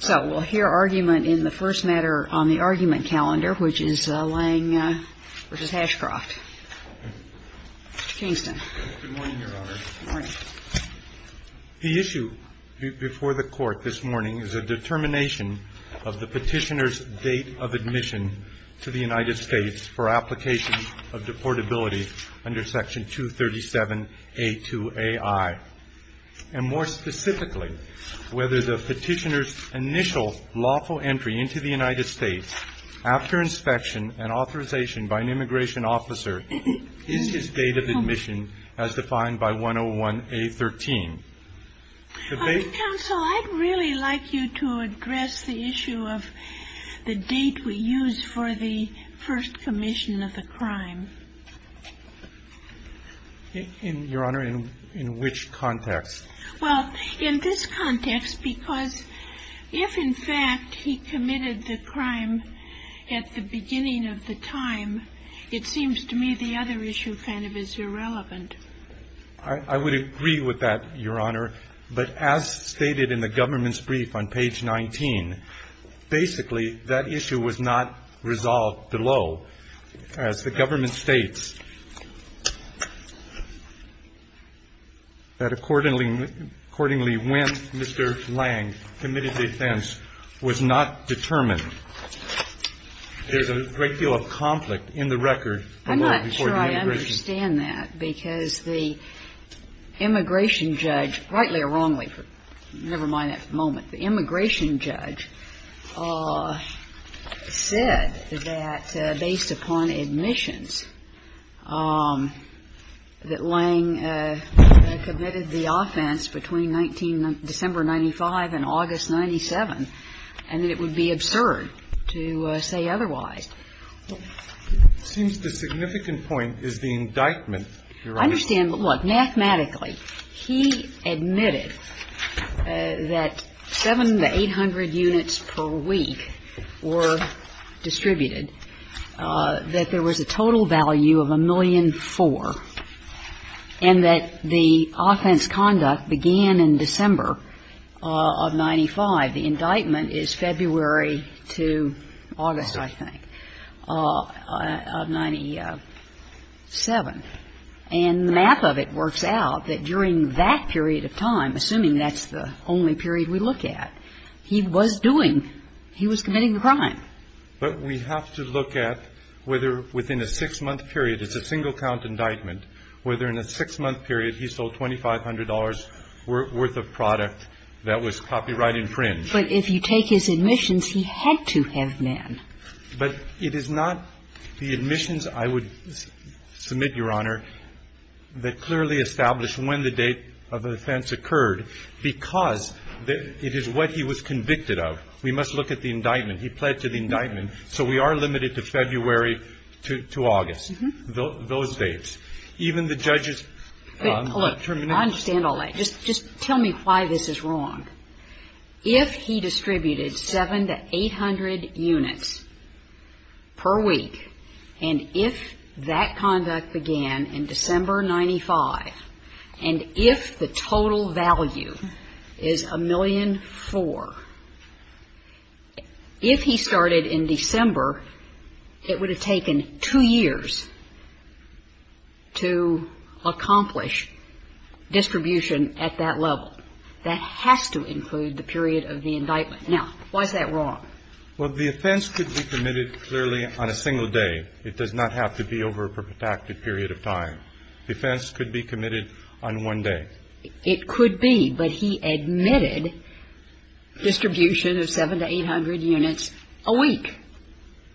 So we'll hear argument in the first matter on the argument calendar, which is Lang v. Ashcroft. Mr. Kingston. Good morning, Your Honor. Good morning. The issue before the Court this morning is a determination of the petitioner's date of admission to the United States for application of deportability under Section 237A2AI. And more specifically, whether the petitioner's initial lawful entry into the United States after inspection and authorization by an immigration officer is his date of admission as defined by 101A13. Counsel, I'd really like you to address the issue of the date we use for the first commission of the crime. Your Honor, in which context? Well, in this context, because if, in fact, he committed the crime at the beginning of the time, it seems to me the other issue kind of is irrelevant. I would agree with that, Your Honor. But as stated in the government's brief on page 19, basically, that issue was not resolved below. As the government states, that accordingly when Mr. Lang committed the offense was not determined. There's a great deal of conflict in the record. I'm not sure I understand that because the immigration judge, rightly or wrongly, never mind that for the moment, the immigration judge said that based upon admissions that Lang committed the offense between December 95 and August 97, and that it would be absurd to say otherwise. It seems the significant point is the indictment, Your Honor. I understand. But look, mathematically, he admitted that 7 to 800 units per week were distributed, that there was a total value of 1,000,004, and that the offense conduct began in December of 95. The indictment is February to August, I think, of 97. And the map of it works out that during that period of time, assuming that's the only period we look at, he was doing, he was committing the crime. But we have to look at whether within a six-month period, it's a single count indictment, whether in a six-month period he sold $2,500 worth of product that was copyright infringed. But if you take his admissions, he had to have been. But it is not the admissions, I would submit, Your Honor, that clearly establish when the date of the offense occurred, because it is what he was convicted of. We must look at the indictment. He pled to the indictment. So we are limited to February to August, those dates. Even the judge's determination. Wait. Hold on. I understand all that. Just tell me why this is wrong. If he distributed 700 to 800 units per week, and if that conduct began in December of 95, and if the total value is 1,000,004, if he started in December, it would have taken two years to accomplish distribution at that level. That has to include the period of the indictment. Now, why is that wrong? Well, the offense could be committed clearly on a single day. It does not have to be over a protracted period of time. The offense could be committed on one day. It could be. But he admitted distribution of 700 to 800 units a week.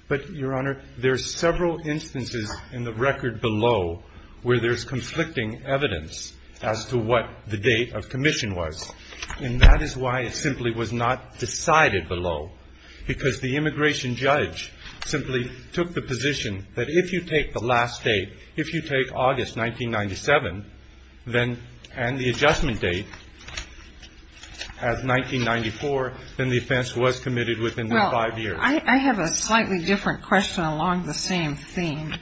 But, Your Honor, there are several instances in the record below where there's conflicting evidence as to what the date of commission was. And that is why it simply was not decided below, because the immigration judge simply took the position that if you take the last date, if you take August 1997, then the adjustment date as 1994, then the offense was committed within five years. I have a slightly different question along the same theme.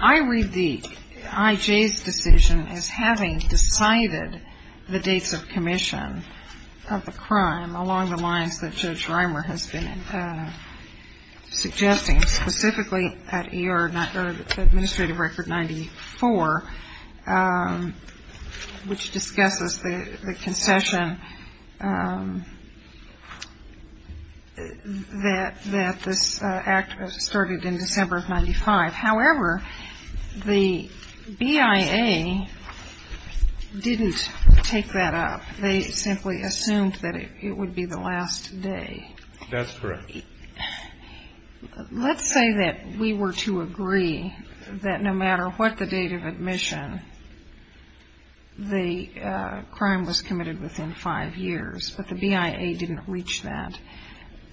I read the I.J.'s decision as having decided the dates of commission of the crime along the lines that Judge Reimer has been suggesting, specifically at administrative record 94, which discusses the concession that this act started in December of 95. However, the BIA didn't take that up. They simply assumed that it would be the last day. That's correct. Let's say that we were to agree that no matter what the date of admission, the crime was committed within five years, but the BIA didn't reach that.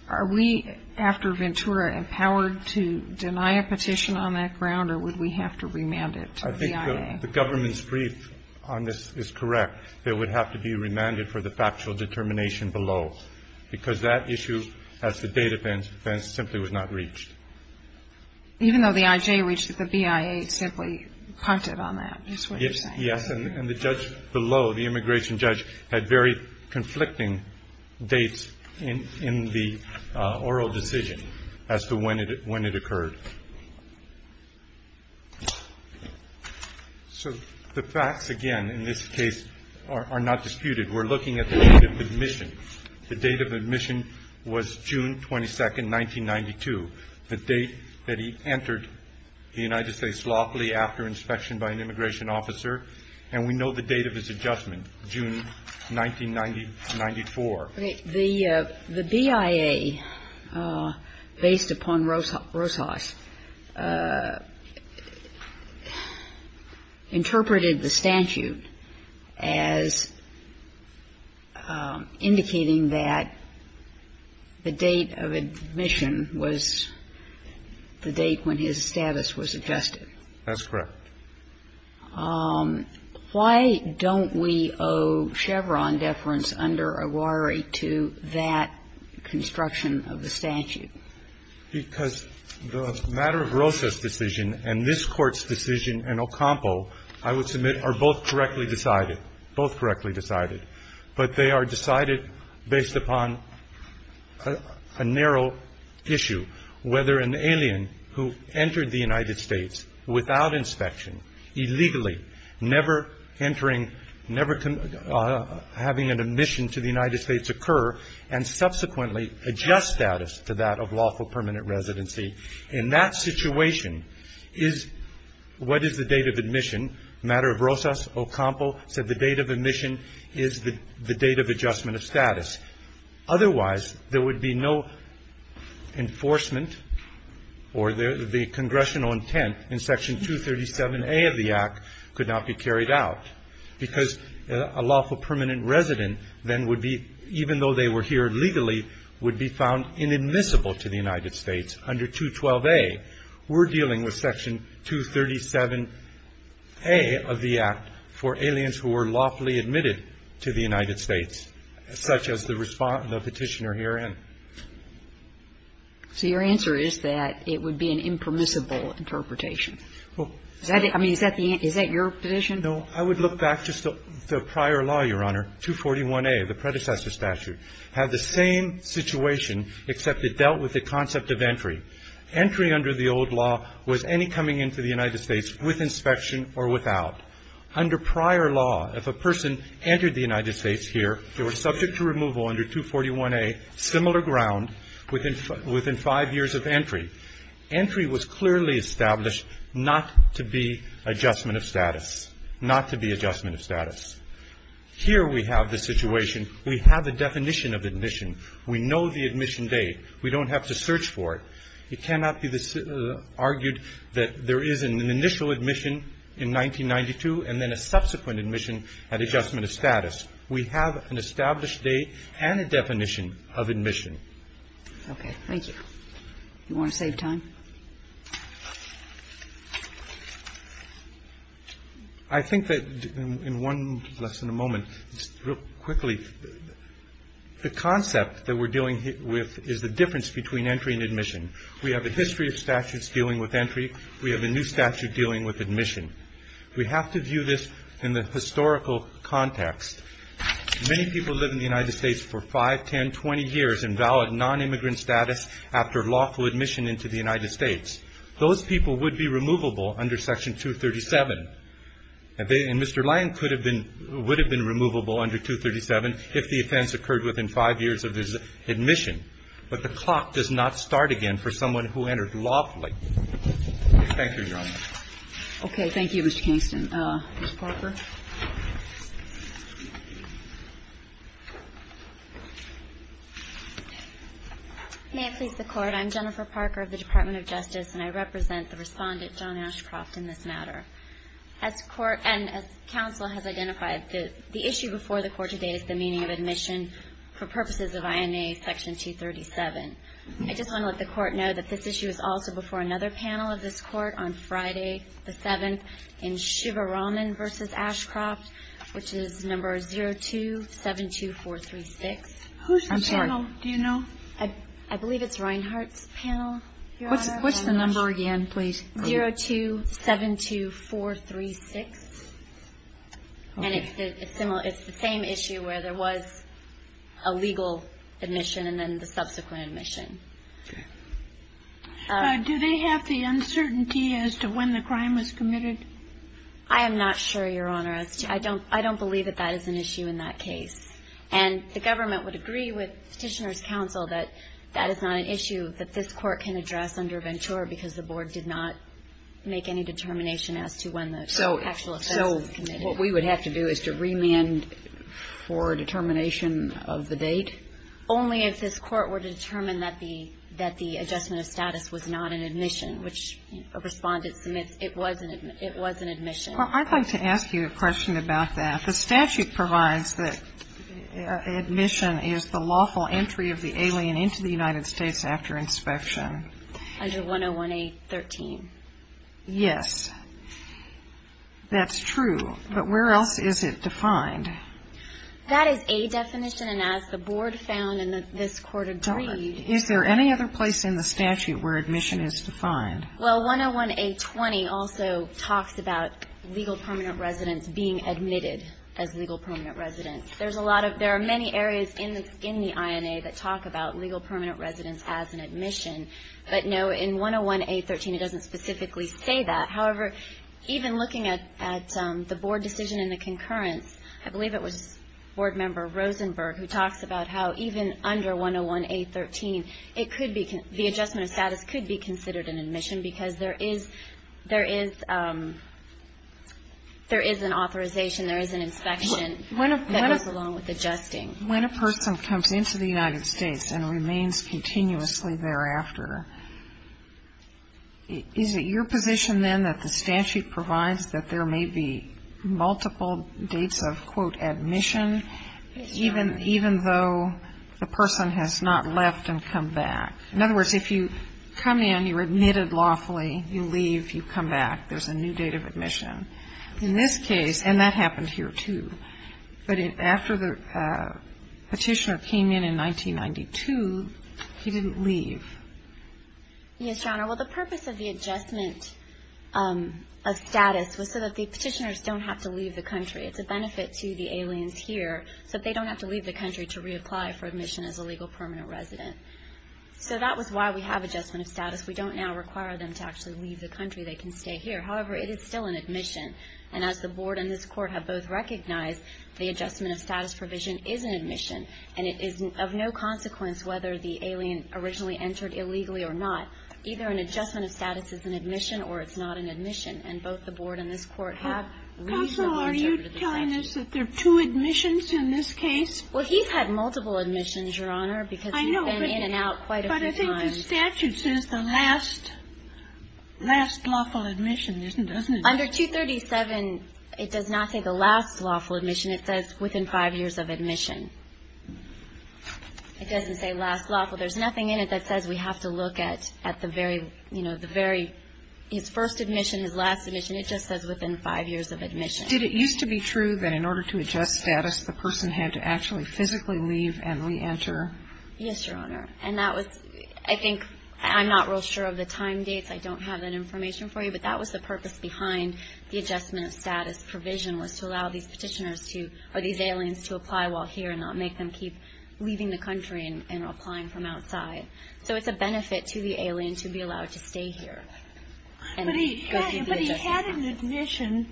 Are we, after Ventura, empowered to deny a petition on that ground, or would we have to remand it to the BIA? I think the government's brief on this is correct. It would have to be remanded for the factual determination below, because that issue, as the date events, simply was not reached. Even though the I.J. reached it, the BIA simply punted on that, is what you're saying. Yes, and the judge below, the immigration judge, had very conflicting dates in the oral decision as to when it occurred. So the facts, again, in this case, are not disputed. We're looking at the date of admission. The date of admission was June 22, 1992, the date that he entered the United States lawfully after inspection by an immigration officer. And we know the date of his adjustment, June 1994. The BIA, based upon Rosas, interpreted the statute as indicating that the date of admission was the date when his status was adjusted. That's correct. Why don't we owe Chevron deference under Aguari to that construction of the statute? Because the matter of Rosas' decision and this Court's decision and Ocampo, I would submit, are both correctly decided, both correctly decided. But they are decided based upon a narrow issue, whether an alien who entered the United States without inspection, illegally, never entering, never having an admission to the United States occur, and subsequently adjust status to that of lawful permanent residency. In that situation, what is the date of admission? The matter of Rosas, Ocampo said the date of admission is the date of adjustment of status. Otherwise, there would be no enforcement or the congressional intent in Section 237A of the Act could not be carried out because a lawful permanent resident then would be, even though they were here legally, would be found inadmissible to the United States. Under 212A, we're dealing with Section 237A of the Act for aliens who were lawfully admitted to the United States, such as the Petitioner herein. So your answer is that it would be an impermissible interpretation. I mean, is that your position? No. I would look back just to the prior law, Your Honor, 241A, the predecessor statute, had the same situation except it dealt with the concept of entry. Entry under the old law was any coming into the United States with inspection or without. Under prior law, if a person entered the United States here, they were subject to removal under 241A, similar ground, within five years of entry. Entry was clearly established not to be adjustment of status, not to be adjustment of status. Here we have the situation. We have the definition of admission. We know the admission date. We don't have to search for it. It cannot be argued that there is an initial admission in 1992 and then a subsequent admission at adjustment of status. We have an established date and a definition of admission. Okay. Thank you. You want to save time? I think that in one less than a moment, just real quickly, the concept that we're dealing with is the difference between entry and admission. We have a history of statutes dealing with entry. We have a new statute dealing with admission. We have to view this in the historical context. Many people live in the United States for 5, 10, 20 years in valid nonimmigrant status after lawful admission into the United States. Those people would be removable under Section 237. And Mr. Lange would have been removable under 237 if the offense occurred within 5 years of his admission. But the clock does not start again for someone who entered lawfully. Thank you, Your Honor. Okay. Thank you, Mr. Kingston. Ms. Parker. May it please the Court. I'm Jennifer Parker of the Department of Justice, and I represent the respondent, John Ashcroft, in this matter. As the Court and as counsel has identified, the issue before the Court today is the meaning of admission for purposes of INA Section 237. I just want to let the Court know that this issue is also before another panel of this Court on Friday, the 7th, in Shivaraman v. Ashcroft, which is number 0272436. I'm sorry. Who's the panel? Do you know? I believe it's Reinhart's panel, Your Honor. What's the number again, please? 0272436. Okay. And it's the same issue where there was a legal admission and then the subsequent admission. Okay. Do they have the uncertainty as to when the crime was committed? I am not sure, Your Honor. I don't believe that that is an issue in that case. And the government would agree with Petitioner's Counsel that that is not an issue that this Court can address under Ventura because the Board did not make any determination as to when the actual offense was committed. So what we would have to do is to remand for determination of the date? Only if this Court were to determine that the adjustment of status was not an admission, which a Respondent submits it was an admission. Well, I'd like to ask you a question about that. The statute provides that admission is the lawful entry of the alien into the United States. I have a question. Under 101A13. Yes. That's true. But where else is it defined? That is a definition, and as the Board found and this Court agreed. Is there any other place in the statute where admission is defined? Well, 101A20 also talks about legal permanent residents being admitted as legal permanent residents. There's a lot of – there are many areas in the INA that talk about legal permanent residents as an admission. But, no, in 101A13 it doesn't specifically say that. However, even looking at the Board decision in the concurrence, I believe it was Board member Rosenberg who talks about how even under 101A13 it could be – the adjustment of status could be considered an admission because there is – there is an authorization, there is an inspection that goes along with adjusting. When a person comes into the United States and remains continuously thereafter, is it your position then that the statute provides that there may be multiple dates of, quote, admission, even though the person has not left and come back? In other words, if you come in, you're admitted lawfully, you leave, you come back, there's a new date of admission. In this case, and that happened here, too, but after the petitioner came in in 1992, he didn't leave. Yes, Your Honor. Well, the purpose of the adjustment of status was so that the petitioners don't have to leave the country. It's a benefit to the aliens here so that they don't have to leave the country to reapply for admission as a legal permanent resident. So that was why we have adjustment of status. We don't now require them to actually leave the country. They can stay here. However, it is still an admission. And as the Board and this Court have both recognized, the adjustment of status provision is an admission. And it is of no consequence whether the alien originally entered illegally or not. Either an adjustment of status is an admission or it's not an admission. And both the Board and this Court have reasonably interpreted the statute. Kagan, are you telling us that there are two admissions in this case? Well, he's had multiple admissions, Your Honor, because he's been in and out quite a few times. The statute says the last lawful admission, doesn't it? Under 237, it does not say the last lawful admission. It says within five years of admission. It doesn't say last lawful. There's nothing in it that says we have to look at the very, you know, the very his first admission, his last admission. It just says within five years of admission. Did it used to be true that in order to adjust status, the person had to actually physically leave and reenter? Yes, Your Honor. And that was, I think, I'm not real sure of the time dates. I don't have that information for you. But that was the purpose behind the adjustment of status provision was to allow these petitioners to, or these aliens to apply while here and not make them keep leaving the country and applying from outside. So it's a benefit to the alien to be allowed to stay here. But he had an admission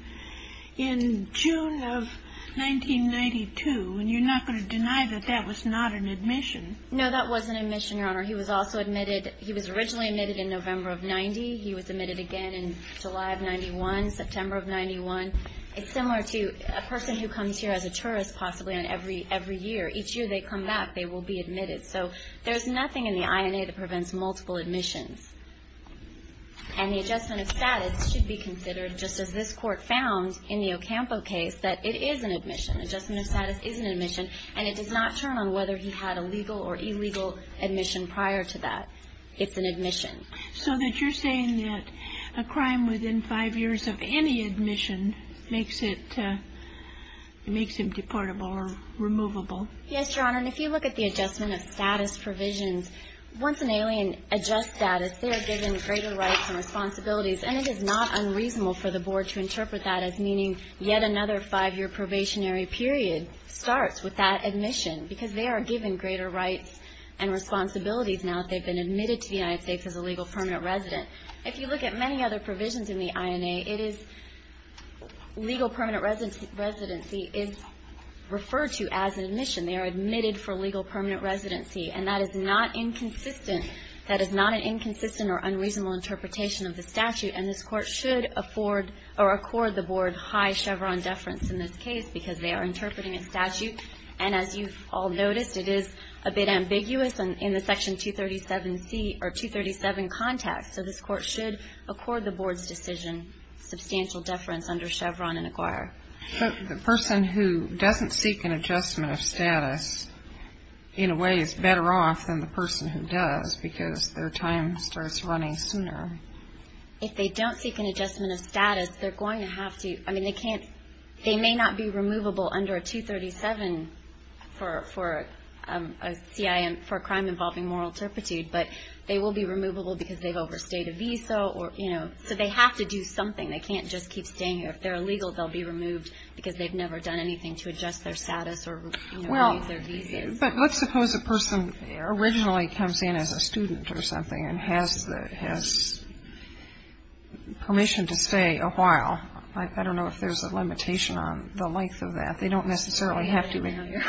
in June of 1992. And you're not going to deny that that was not an admission? No, that wasn't an admission, Your Honor. He was also admitted. He was originally admitted in November of 1990. He was admitted again in July of 1991, September of 1991. It's similar to a person who comes here as a tourist possibly on every year. Each year they come back, they will be admitted. So there's nothing in the INA that prevents multiple admissions. And the adjustment of status should be considered just as this Court found in the Adjustment of status is an admission. And it does not turn on whether he had a legal or illegal admission prior to that. It's an admission. So that you're saying that a crime within five years of any admission makes it makes him deportable or removable? Yes, Your Honor. And if you look at the adjustment of status provisions, once an alien adjusts status, they are given greater rights and responsibilities. And it is not unreasonable for the Board to interpret that as meaning yet another five-year probationary period starts with that admission because they are given greater rights and responsibilities now that they've been admitted to the United States as a legal permanent resident. If you look at many other provisions in the INA, it is legal permanent residency is referred to as an admission. They are admitted for legal permanent residency. And that is not inconsistent. That is not an inconsistent or unreasonable interpretation of the statute. And this Court should afford or accord the Board high Chevron deference in this case because they are interpreting a statute. And as you've all noticed, it is a bit ambiguous in the Section 237C or 237 context. So this Court should accord the Board's decision substantial deference under Chevron and acquire. But the person who doesn't seek an adjustment of status, in a way, is better off than the person who does because their time starts running sooner. If they don't seek an adjustment of status, they're going to have to, I mean, they can't, they may not be removable under 237 for a crime involving moral turpitude, but they will be removable because they've overstayed a visa or, you know, so they have to do something. They can't just keep staying here. If they're illegal, they'll be removed because they've never done anything to adjust their status or, you know, renew their visas. Well, but let's suppose a person originally comes in as a student or something and has permission to stay a while. I don't know if there's a limitation on the length of that. They don't necessarily have to be there.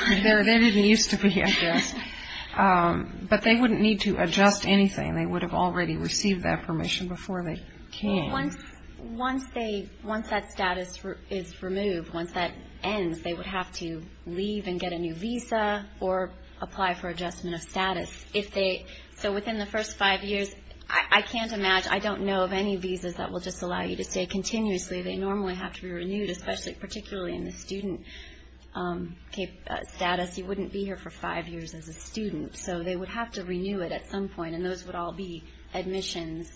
They didn't used to be addressed. But they wouldn't need to adjust anything. They would have already received that permission before they came. Once they, once that status is removed, once that ends, they would have to leave and get a new visa or apply for adjustment of status. If they, so within the first five years, I can't imagine, I don't know of any visas that will just allow you to stay continuously. They normally have to be renewed, especially particularly in the student status. You wouldn't be here for five years as a student. So they would have to renew it at some point, and those would all be admissions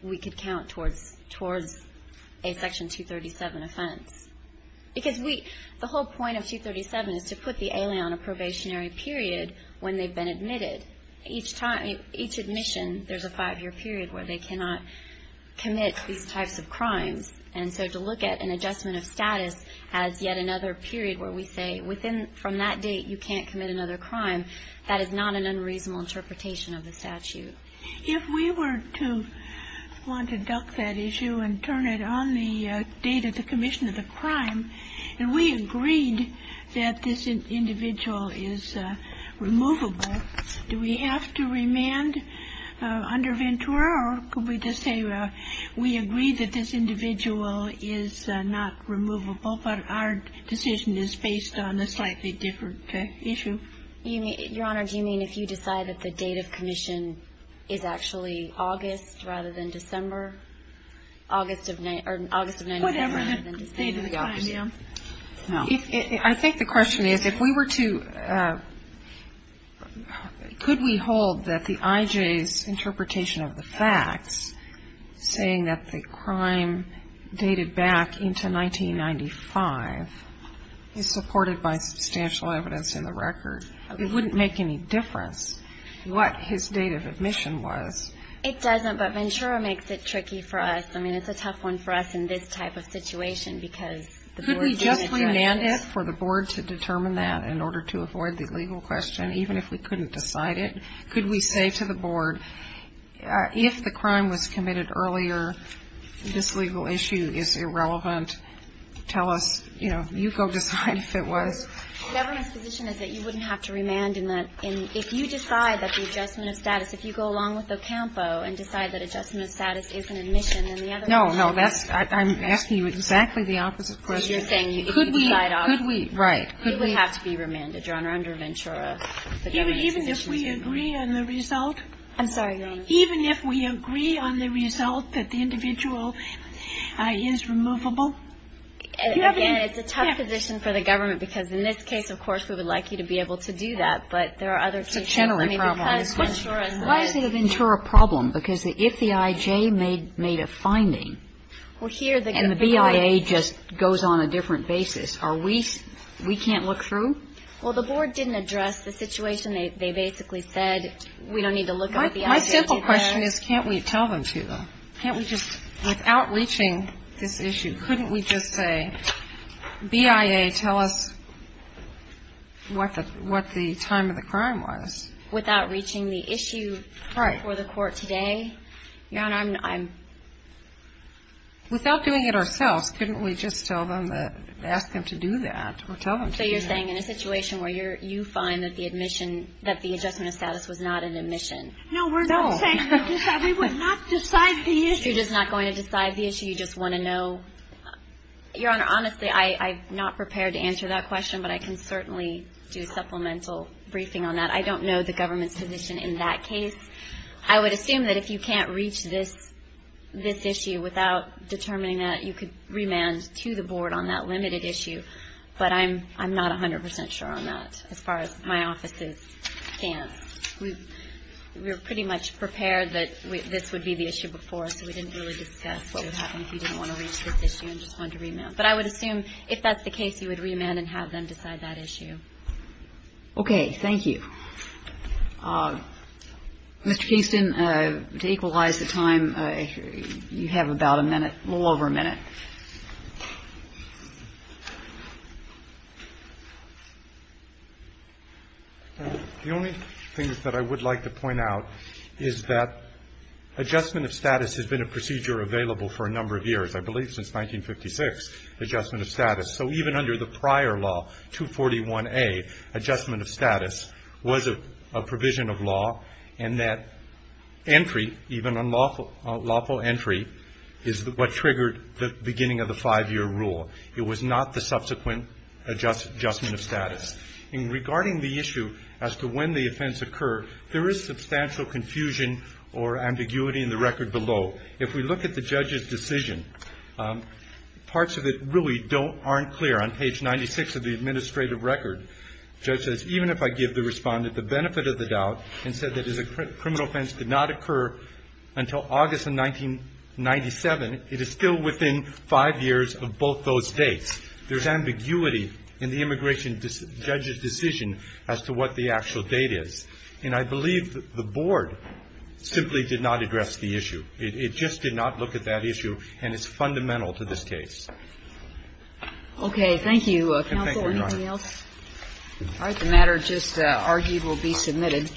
we could count towards a Section 237 offense. Because we, the whole point of 237 is to put the alien on a probationary period when they've been admitted. Each time, each admission, there's a five-year period where they cannot commit these types of crimes. And so to look at an adjustment of status as yet another period where we say, from that date you can't commit another crime, that is not an unreasonable interpretation of the statute. If we were to want to duck that issue and turn it on the date of the commission of the crime, and we agreed that this individual is removable, do we have to remand under Ventura? Or could we just say we agreed that this individual is not removable, but our decision is based on a slightly different issue? Your Honor, do you mean if you decide that the date of commission is actually August rather than December? Whatever the date of the crime, yeah. I think the question is, if we were to, could we hold that the I.J.'s interpretation of the facts, saying that the crime dated back into 1995 is supported by substantial evidence in the record, it wouldn't make any difference what his date of admission was. It doesn't, but Ventura makes it tricky for us. I mean, it's a tough one for us in this type of situation because the board didn't address it. Could we just remand it for the board to determine that in order to avoid the legal question, even if we couldn't decide it? Could we say to the board, if the crime was committed earlier, this legal issue is irrelevant, tell us, you know, you go decide if it was. The government's position is that you wouldn't have to remand in that. And if you decide that the adjustment of status, if you go along with Ocampo and decide that adjustment of status is an admission, then the other one would be remanded. No, no, that's, I'm asking you exactly the opposite question. You're saying if you decide August. Could we, could we, right. It would have to be remanded, Your Honor, under Ventura. Even if we agree on the result? I'm sorry, Your Honor. Even if we agree on the result that the individual is removable? Again, it's a tough position for the government because in this case, of course, we would like you to be able to do that. But there are other cases. It's a Chenery problem. Why is it a Ventura problem? Because if the I.J. made a finding, and the BIA just goes on a different basis, are we, we can't look through? Well, the board didn't address the situation. They basically said we don't need to look at the I.J. to do that. My simple question is can't we tell them to, though? Can't we just, without reaching this issue, couldn't we just say, BIA, tell us what the time of the crime was? Without reaching the issue for the court today? Your Honor, I'm... Without doing it ourselves, couldn't we just tell them, ask them to do that or tell them to do that? So you're saying in a situation where you find that the admission, that the adjustment of status was not an admission? No, we're not saying... No. We would not decide the issue. You're just not going to decide the issue? Do you just want to know? Your Honor, honestly, I'm not prepared to answer that question, but I can certainly do a supplemental briefing on that. I don't know the government's position in that case. I would assume that if you can't reach this issue without determining that, you could remand to the board on that limited issue, but I'm not 100 percent sure on that as far as my office's stance. We were pretty much prepared that this would be the issue before, so we didn't really discuss what would happen if you didn't want to reach this issue and just wanted to remand. But I would assume if that's the case, you would remand and have them decide that issue. Okay. Thank you. Mr. Kingston, to equalize the time, you have about a minute, a little over a minute. The only thing that I would like to point out is that adjustment of status has been a procedure available for a number of years, I believe since 1956, adjustment of status. So even under the prior law, 241A, adjustment of status was a provision of law, and that entry, even unlawful entry, is what triggered the beginning of the five-year rule. It was not the subsequent adjustment of status. And regarding the issue as to when the offense occurred, there is substantial confusion or ambiguity in the record below. If we look at the judge's decision, parts of it really aren't clear. On page 96 of the administrative record, even if I give the Respondent the benefit of the doubt and said that his criminal offense did not occur until August of 1997, it is still within five years of both those dates. There's ambiguity in the immigration judge's decision as to what the actual date is. And I believe the Board simply did not address the issue. It just did not look at that issue, and it's fundamental to this case. Okay. Thank you, Counsel. Is there anything else? All right. The matter just argued will be submitted.